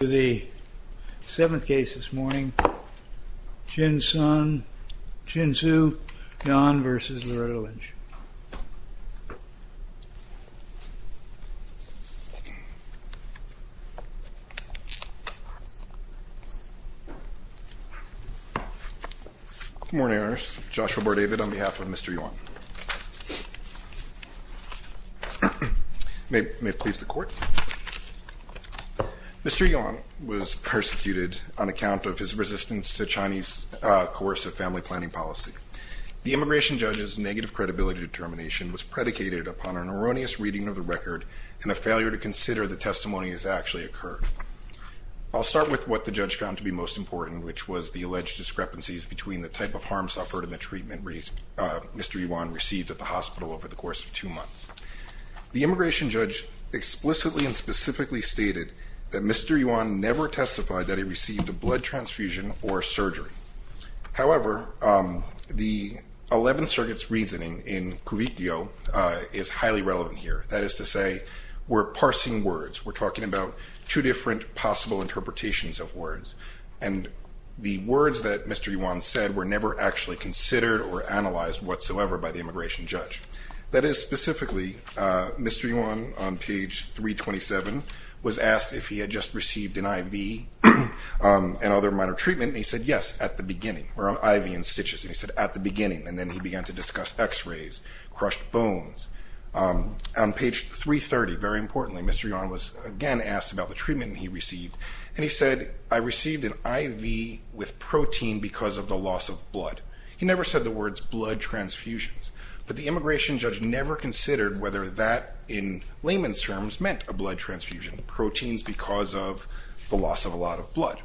To the 7th case this morning, Qin Sui Yuan v. Loretta Lynch Good morning, Your Honor. Joshua Bourdavid on behalf of Mr. Yuan Mr. Yuan was persecuted on account of his resistance to Chinese coercive family planning policy. The immigration judge's negative credibility determination was predicated upon an erroneous reading of the record and a failure to consider that testimony has actually occurred. I'll start with what the judge found to be most important, which was the alleged discrepancies between the type of harm suffered and the treatment Mr. Yuan received at the hospital over the course of two months. The immigration judge explicitly and specifically stated that Mr. Yuan never testified that he received a blood transfusion or surgery. However, the 11th Circuit's reasoning in Cuvite Dio is highly relevant here. That is to say, we're parsing words. We're talking about two different possible interpretations of words. And the words that Mr. Yuan said were never actually considered or analyzed whatsoever by the immigration judge. That is, specifically, Mr. Yuan, on page 327, was asked if he had just received an IV and other minor treatment. And he said, yes, at the beginning, or IV and stitches. And he said, at the beginning. And then he began to discuss x-rays, crushed bones. On page 330, very importantly, Mr. Yuan was again asked about the treatment he received. And he said, I received an IV with protein because of the loss of blood. He never said the words blood transfusions. But the immigration judge never considered whether that, in layman's terms, meant a blood transfusion. Proteins because of the loss of a lot of blood.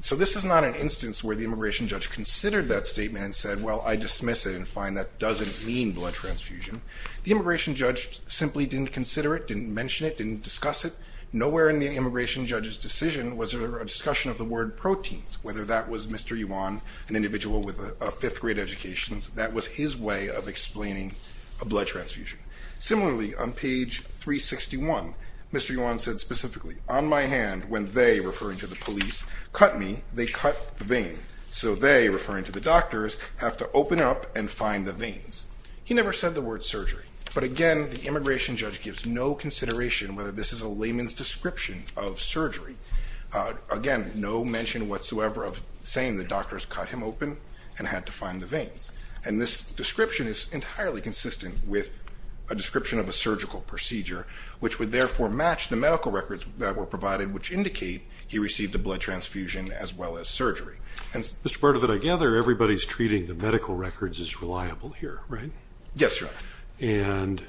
So this is not an instance where the immigration judge considered that statement and said, well, I dismiss it and find that doesn't mean blood transfusion. The immigration judge simply didn't consider it, didn't mention it, didn't discuss it. Nowhere in the immigration judge's decision was there a discussion of the word proteins. Whether that was Mr. Yuan, an individual with a fifth grade education, that was his way of explaining a blood transfusion. Similarly, on page 361, Mr. Yuan said specifically, on my hand, when they, referring to the police, cut me, they cut the vein. So they, referring to the doctors, have to open up and find the veins. He never said the word surgery. But again, the immigration judge gives no consideration whether this is a layman's description of surgery. Again, no mention whatsoever of saying the doctors cut him open and had to find the veins. And this description is entirely consistent with a description of a surgical procedure, which would therefore match the medical records that were provided, which indicate he received a blood transfusion as well as surgery. Mr. Bardo, that I gather everybody's treating the medical records is reliable here, right? Yes, Your Honor. And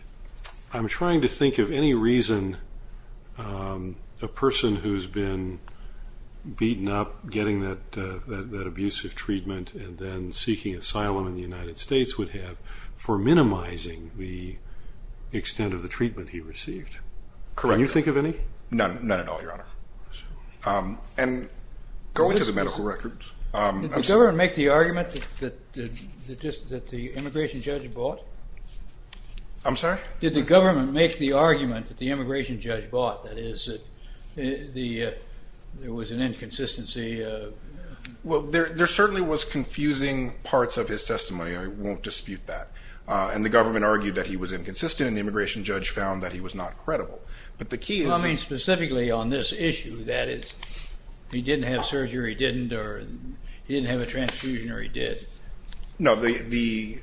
I'm trying to think of any reason a person who's been beaten up, getting that abusive treatment, and then seeking asylum in the United States would have for minimizing the extent of the treatment he received. Correct. Can you think of any? None at all, Your Honor. And going to the medical records. Did the government make the argument that the immigration judge bought? I'm sorry? Did the government make the argument that the immigration judge bought, that is, that there was an inconsistency? Well, there certainly was confusing parts of his testimony. I won't dispute that. And the government argued that he was inconsistent, and the immigration judge found that he was not credible. I mean, specifically on this issue, that is, he didn't have surgery, he didn't have a transfusion, or he did. No, the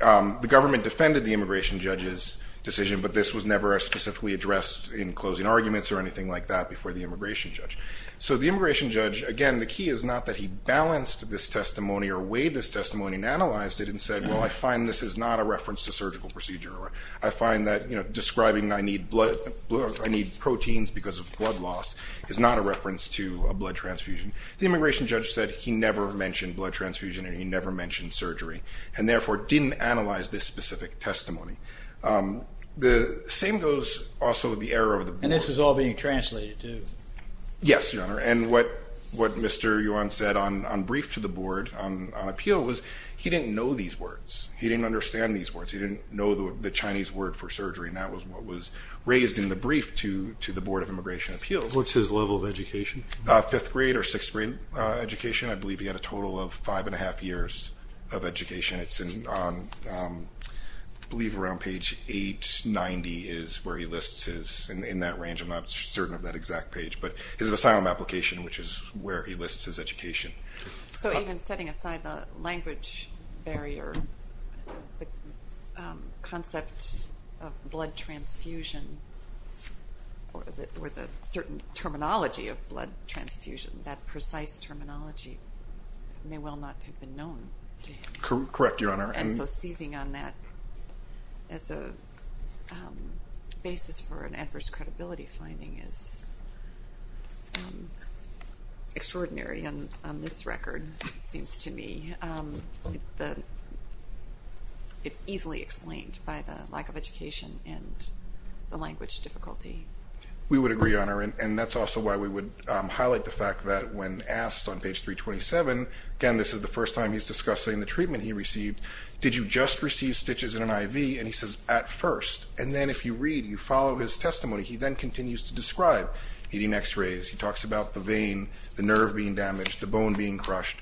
government defended the immigration judge's decision, but this was never specifically addressed in closing arguments or anything like that before the immigration judge. So the immigration judge, again, the key is not that he balanced this testimony or weighed this testimony and analyzed it and said, well, I find this is not a reference to surgical procedure. I find that describing I need proteins because of blood loss is not a reference to a blood transfusion. The immigration judge said he never mentioned blood transfusion and he never mentioned surgery, and therefore didn't analyze this specific testimony. The same goes also with the error of the board. And this was all being translated, too. Yes, Your Honor. And what Mr. Yuan said on brief to the board, on appeal, was he didn't know these words. He didn't understand these words. He didn't know the Chinese word for surgery, and that was what was raised in the brief to the Board of Immigration Appeals. What's his level of education? Fifth grade or sixth grade education. I believe he had a total of five and a half years of education. It's on, I believe, around page 890 is where he lists his, in that range, I'm not certain of that exact page, but his asylum application, which is where he lists his education. So even setting aside the language barrier, the concept of blood transfusion or the certain terminology of blood transfusion, that precise terminology may well not have been known to him. Correct, Your Honor. And so seizing on that as a basis for an adverse credibility finding is extraordinary on this record, it seems to me. It's easily explained by the lack of education and the language difficulty. We would agree, Your Honor, and that's also why we would highlight the fact that when asked on page 327, again, this is the first time he's discussing the treatment he received, did you just receive stitches and an IV? And he says, at first. And then if you read, you follow his testimony, he then continues to describe needing X-rays. He talks about the vein, the nerve being damaged, the bone being crushed.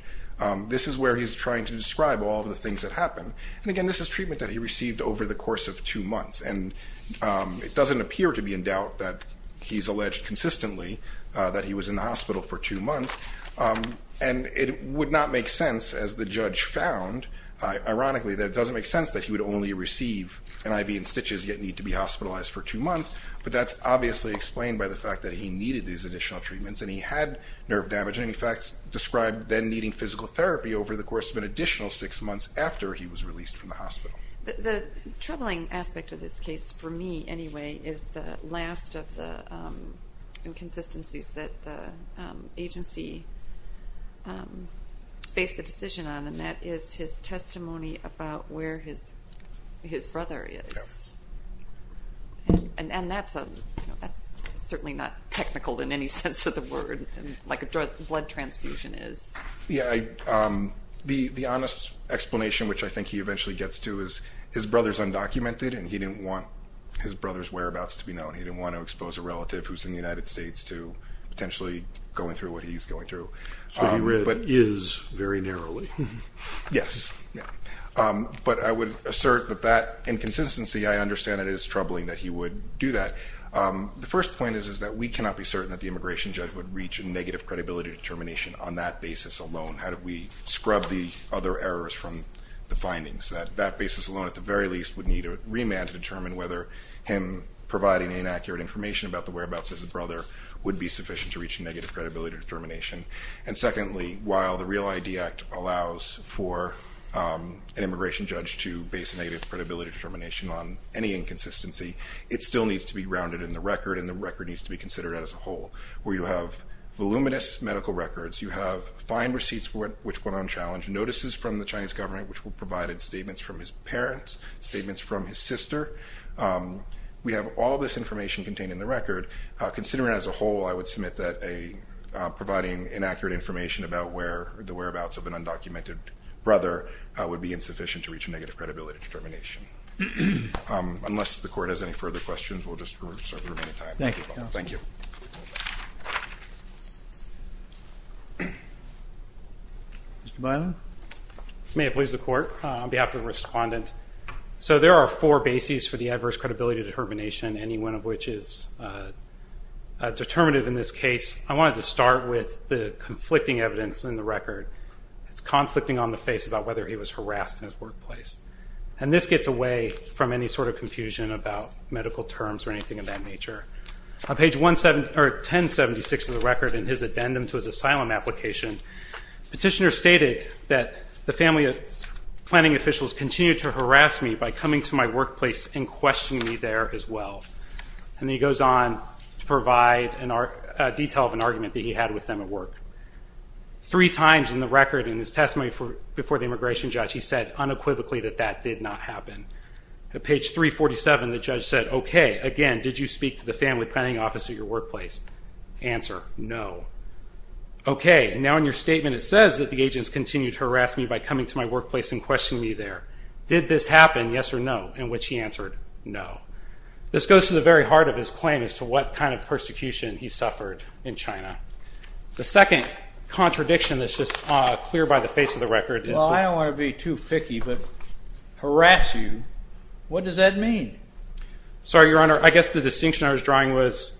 This is where he's trying to describe all of the things that happened. And, again, this is treatment that he received over the course of two months. And it doesn't appear to be in doubt that he's alleged consistently that he was in the hospital for two months. And it would not make sense, as the judge found, ironically, that it doesn't make sense that he would only receive an IV and stitches yet need to be hospitalized for two months. But that's obviously explained by the fact that he needed these additional treatments and he had nerve damage. And, in fact, described then needing physical therapy over the course of an additional six months after he was released from the hospital. The troubling aspect of this case, for me anyway, is the last of the inconsistencies that the agency faced a decision on, and that is his testimony about where his brother is. And that's certainly not technical in any sense of the word, like a blood transfusion is. The honest explanation, which I think he eventually gets to, is his brother's undocumented and he didn't want his brother's whereabouts to be known. He didn't want to expose a relative who's in the United States to potentially going through what he's going through. So he read, is, very narrowly. Yes. But I would assert that that inconsistency, I understand it as troubling that he would do that. The first point is that we cannot be certain that the immigration judge would reach a negative credibility determination on that basis alone. How do we scrub the other errors from the findings? That basis alone, at the very least, would need a remand to determine whether him providing inaccurate information about the whereabouts of his brother would be sufficient to reach a negative credibility determination. And secondly, while the REAL ID Act allows for an immigration judge to base a negative credibility determination on any inconsistency, it still needs to be grounded in the record and the record needs to be considered as a whole. Where you have voluminous medical records, you have fine receipts which went unchallenged, notices from the Chinese government which provided statements from his parents, statements from his sister. We have all this information contained in the record. Considering as a whole, I would submit that providing inaccurate information about the whereabouts of an undocumented brother would be insufficient to reach a negative credibility determination. Unless the court has any further questions, we'll just reserve the remaining time. Thank you, counsel. Thank you. Mr. Byler? If I may please the court, on behalf of the respondent. So there are four bases for the adverse credibility determination, any one of which is determinative in this case. I wanted to start with the conflicting evidence in the record. It's conflicting on the face about whether he was harassed in his workplace. And this gets away from any sort of confusion about medical terms or anything of that nature. On page 1076 of the record in his addendum to his asylum application, petitioner stated that the family of planning officials continued to harass me by coming to my workplace and questioning me there as well. And he goes on to provide a detail of an argument that he had with them at work. Three times in the record in his testimony before the immigration judge, he said unequivocally that that did not happen. At page 347, the judge said, okay, again, did you speak to the family planning office at your workplace? Answer, no. Okay, now in your statement it says that the agents continued to harass me by coming to my workplace and questioning me there. Did this happen, yes or no? In which he answered, no. This goes to the very heart of his claim as to what kind of persecution he suffered in China. The second contradiction that's just clear by the face of the record is that harass you, what does that mean? Sorry, Your Honor, I guess the distinction I was drawing was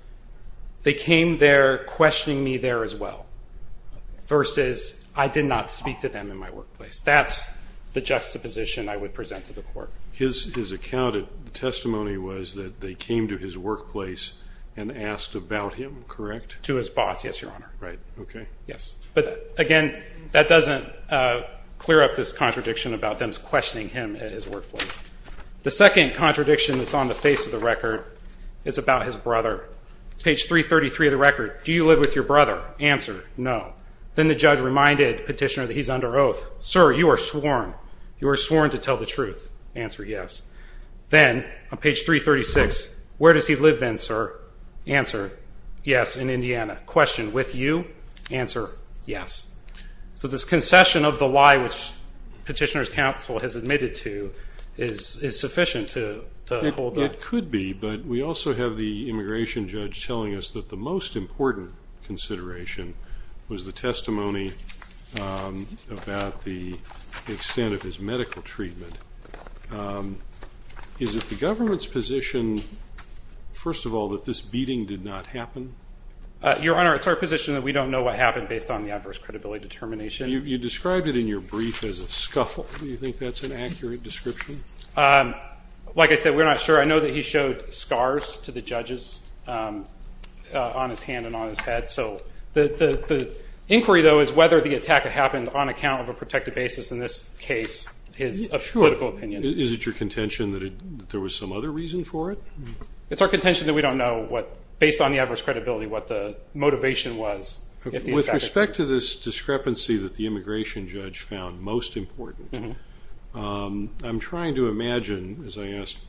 they came there questioning me there as well versus I did not speak to them in my workplace. That's the juxtaposition I would present to the court. His account, the testimony was that they came to his workplace and asked about him, correct? To his boss, yes, Your Honor. Right, okay. Yes, but again, that doesn't clear up this contradiction about them questioning him at his workplace. The second contradiction that's on the face of the record is about his brother. Page 333 of the record, do you live with your brother? Answer, no. Then the judge reminded Petitioner that he's under oath. Sir, you are sworn. You are sworn to tell the truth. Answer, yes. Then on page 336, where does he live then, sir? Answer, yes, in Indiana. Question, with you? Answer, yes. So this concession of the lie which Petitioner's counsel has admitted to is sufficient to hold up. It could be, but we also have the immigration judge telling us that the most important consideration was the testimony about the extent of his medical treatment. Is it the government's position, first of all, that this beating did not happen? Your Honor, it's our position that we don't know what happened based on the adverse credibility determination. You described it in your brief as a scuffle. Do you think that's an accurate description? Like I said, we're not sure. I know that he showed scars to the judges on his hand and on his head. So the inquiry, though, is whether the attack happened on account of a protected basis. In this case, it's a critical opinion. Is it your contention that there was some other reason for it? It's our contention that we don't know what, based on the adverse credibility, what the motivation was. With respect to this discrepancy that the immigration judge found most important, I'm trying to imagine, as I asked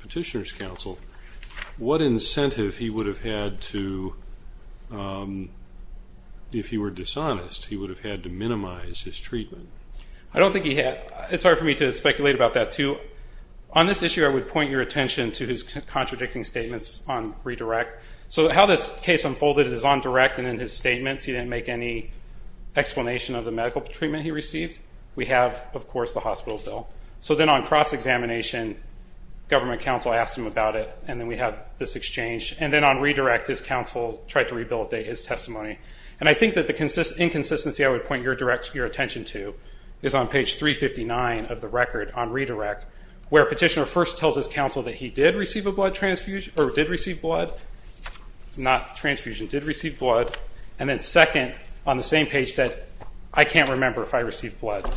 Petitioner's counsel, what incentive he would have had to, if he were dishonest, he would have had to minimize his treatment. I don't think he had. It's hard for me to speculate about that, too. On this issue, I would point your attention to his contradicting statements on redirect. So how this case unfolded is on direct and in his statements. He didn't make any explanation of the medical treatment he received. We have, of course, the hospital bill. So then on cross-examination, government counsel asked him about it, and then we have this exchange. And then on redirect, his counsel tried to rehabilitate his testimony. And I think that the inconsistency I would point your attention to is on page 359 of the record on redirect. Where Petitioner first tells his counsel that he did receive a blood transfusion, or did receive blood, not transfusion, did receive blood, and then second, on the same page, said, I can't remember if I received blood.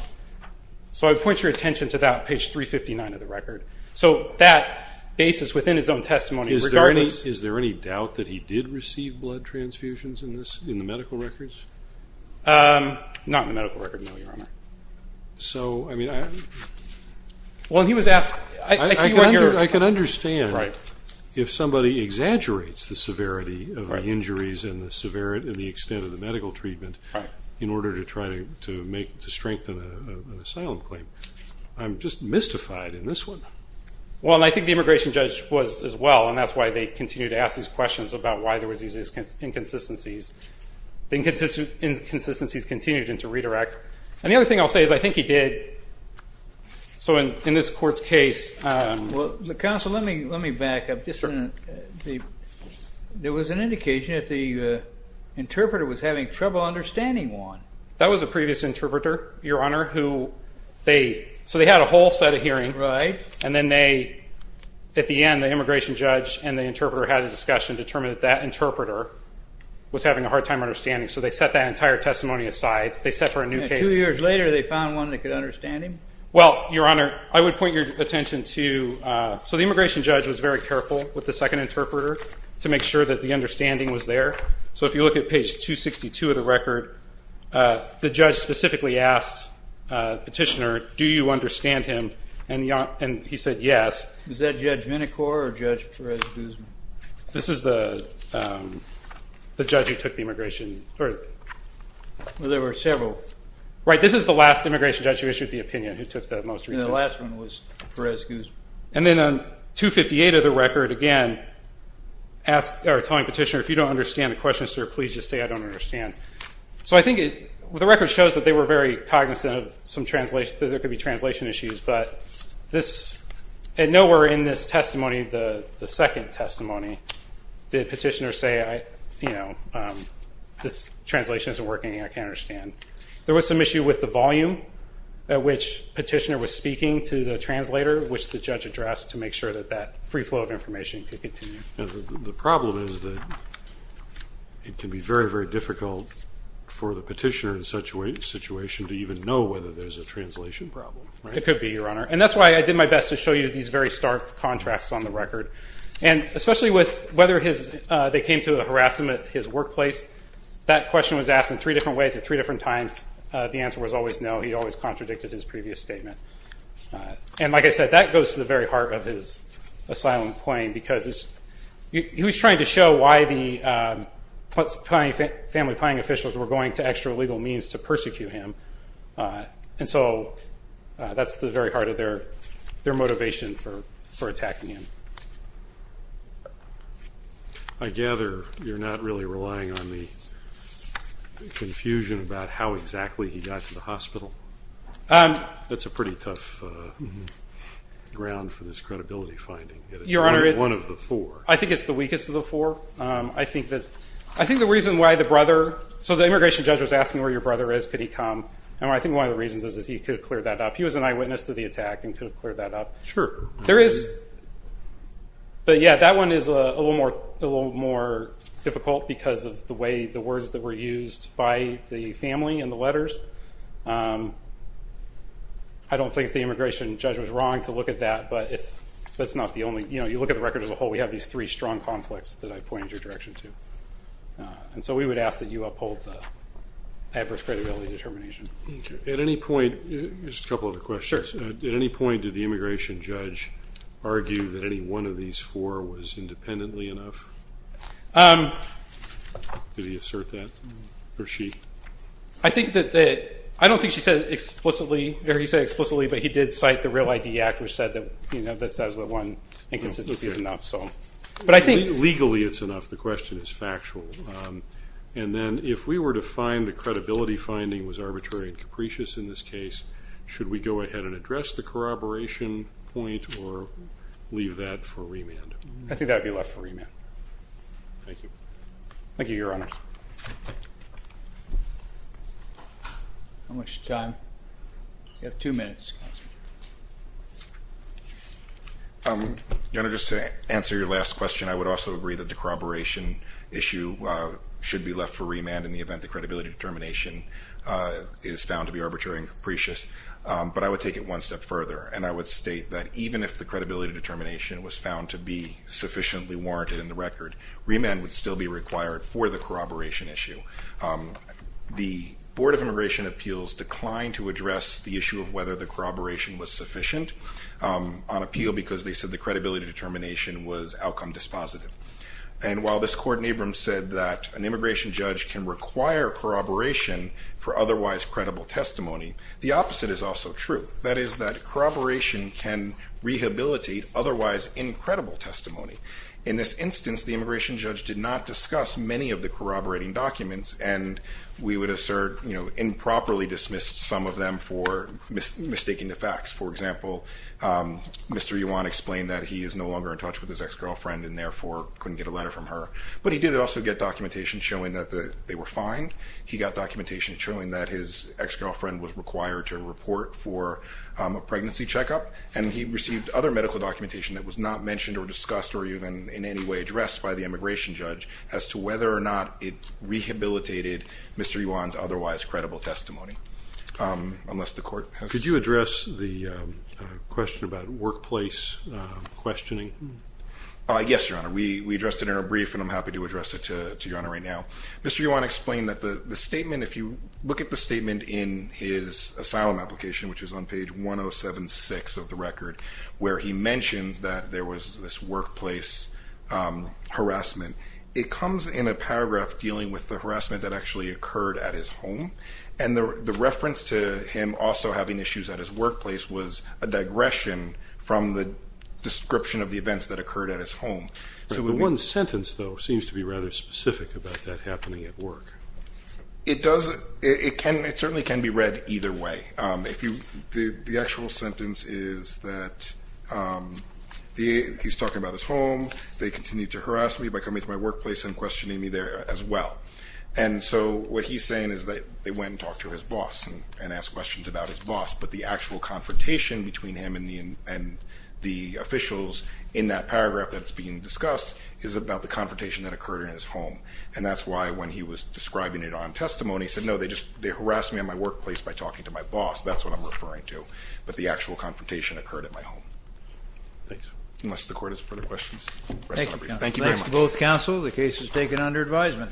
So I would point your attention to that on page 359 of the record. So that basis within his own testimony regarding this. Is there any doubt that he did receive blood transfusions in the medical records? Not in the medical record, no, Your Honor. So, I mean, I can understand if somebody exaggerates the severity of the injuries and the extent of the medical treatment in order to try to strengthen an asylum claim. I'm just mystified in this one. Well, and I think the immigration judge was as well, and that's why they continued to ask these questions about why there was these inconsistencies. The inconsistencies continued into redirect. And the other thing I'll say is I think he did. So in this court's case. Well, counsel, let me back up just a minute. There was an indication that the interpreter was having trouble understanding one. That was a previous interpreter, Your Honor, who they, so they had a whole set of hearing. Right. And then they, at the end, the immigration judge and the interpreter had a discussion, determined that that interpreter was having a hard time understanding. So they set that entire testimony aside. They set for a new case. And two years later they found one that could understand him? Well, Your Honor, I would point your attention to, so the immigration judge was very careful with the second interpreter to make sure that the understanding was there. So if you look at page 262 of the record, the judge specifically asked the petitioner, do you understand him? And he said yes. Was that Judge Minicore or Judge Perez-Guzman? This is the judge who took the immigration. Well, there were several. Right. This is the last immigration judge who issued the opinion, who took the most recent. And the last one was Perez-Guzman. And then on 258 of the record, again, asked our atoning petitioner, if you don't understand the question, sir, please just say I don't understand. So I think the record shows that they were very cognizant of some translation, that there could be translation issues. But nowhere in this testimony, the second testimony, did petitioner say, you know, this translation isn't working, I can't understand. There was some issue with the volume at which petitioner was speaking to the translator, which the judge addressed to make sure that that free flow of information could continue. The problem is that it can be very, very difficult for the petitioner in such a situation to even know whether there's a translation problem. It could be, Your Honor. And that's why I did my best to show you these very stark contrasts on the record. And especially with whether they came to harass him at his workplace, that question was asked in three different ways at three different times. The answer was always no. He always contradicted his previous statement. And like I said, that goes to the very heart of his asylum claim, because he was trying to show why the family planning officials were going to extra legal means to persecute him. And so that's the very heart of their motivation for attacking him. I gather you're not really relying on the confusion about how exactly he got to the hospital. That's a pretty tough ground for this credibility finding. One of the four. I think it's the weakest of the four. I think the reason why the brother, so the immigration judge was asking where your brother is, could he come. And I think one of the reasons is he could have cleared that up. He was an eyewitness to the attack and could have cleared that up. Sure. There is. But, yeah, that one is a little more difficult because of the way the words that were used by the family in the letters. I don't think the immigration judge was wrong to look at that, but that's not the only. You look at the record as a whole, we have these three strong conflicts that I pointed your direction to. And so we would ask that you uphold the average credibility determination. At any point, just a couple other questions. Sure. At any point did the immigration judge argue that any one of these four was independently enough? Did he assert that, or she? I don't think she said it explicitly, or he said it explicitly, but he did cite the REAL ID Act, which says that one inconsistency is enough. Legally it's enough. The question is factual. And then if we were to find the credibility finding was arbitrary and capricious in this case, should we go ahead and address the corroboration point or leave that for remand? I think that would be left for remand. Thank you. Thank you, Your Honor. How much time? You have two minutes. Your Honor, just to answer your last question, I would also agree that the corroboration issue should be left for remand in the event the credibility determination is found to be arbitrary and capricious. But I would take it one step further, and I would state that even if the credibility determination was found to be sufficiently warranted in the record, remand would still be required for the corroboration issue. The Board of Immigration Appeals declined to address the issue of whether the corroboration was sufficient on appeal because they said the credibility determination was outcome dispositive. And while this Court in Abrams said that an immigration judge can require corroboration for otherwise credible testimony, the opposite is also true. That is that corroboration can rehabilitate otherwise incredible testimony. In this instance, the immigration judge did not discuss many of the corroborating documents, and we would assert improperly dismissed some of them for mistaking the facts. For example, Mr. Yuan explained that he is no longer in touch with his ex-girlfriend and therefore couldn't get a letter from her. But he did also get documentation showing that they were fine. He got documentation showing that his ex-girlfriend was required to report for a pregnancy checkup, and he received other medical documentation that was not mentioned or discussed or even in any way addressed by the immigration judge as to whether or not it rehabilitated Mr. Yuan's otherwise credible testimony, unless the Court has... Could you address the question about workplace questioning? Yes, Your Honor. We addressed it in our brief, and I'm happy to address it to Your Honor right now. Mr. Yuan explained that the statement, if you look at the statement in his asylum application, which is on page 1076 of the record, where he mentions that there was this workplace harassment, it comes in a paragraph dealing with the harassment that actually occurred at his home, and the reference to him also having issues at his workplace was a digression from the description of the events that occurred at his home. The one sentence, though, seems to be rather specific about that happening at work. It does. It certainly can be read either way. The actual sentence is that he's talking about his home, they continue to harass me by coming to my workplace and questioning me there as well. And so what he's saying is that they went and talked to his boss and asked questions about his boss, but the actual confrontation between him and the officials in that paragraph that's being discussed is about the confrontation that occurred in his home. And that's why when he was describing it on testimony, he said, No, they just harassed me in my workplace by talking to my boss. That's what I'm referring to. But the actual confrontation occurred at my home. Thanks. Unless the court has further questions. Thank you. Thank you very much. Thanks to both counsel. The case is taken under advisement.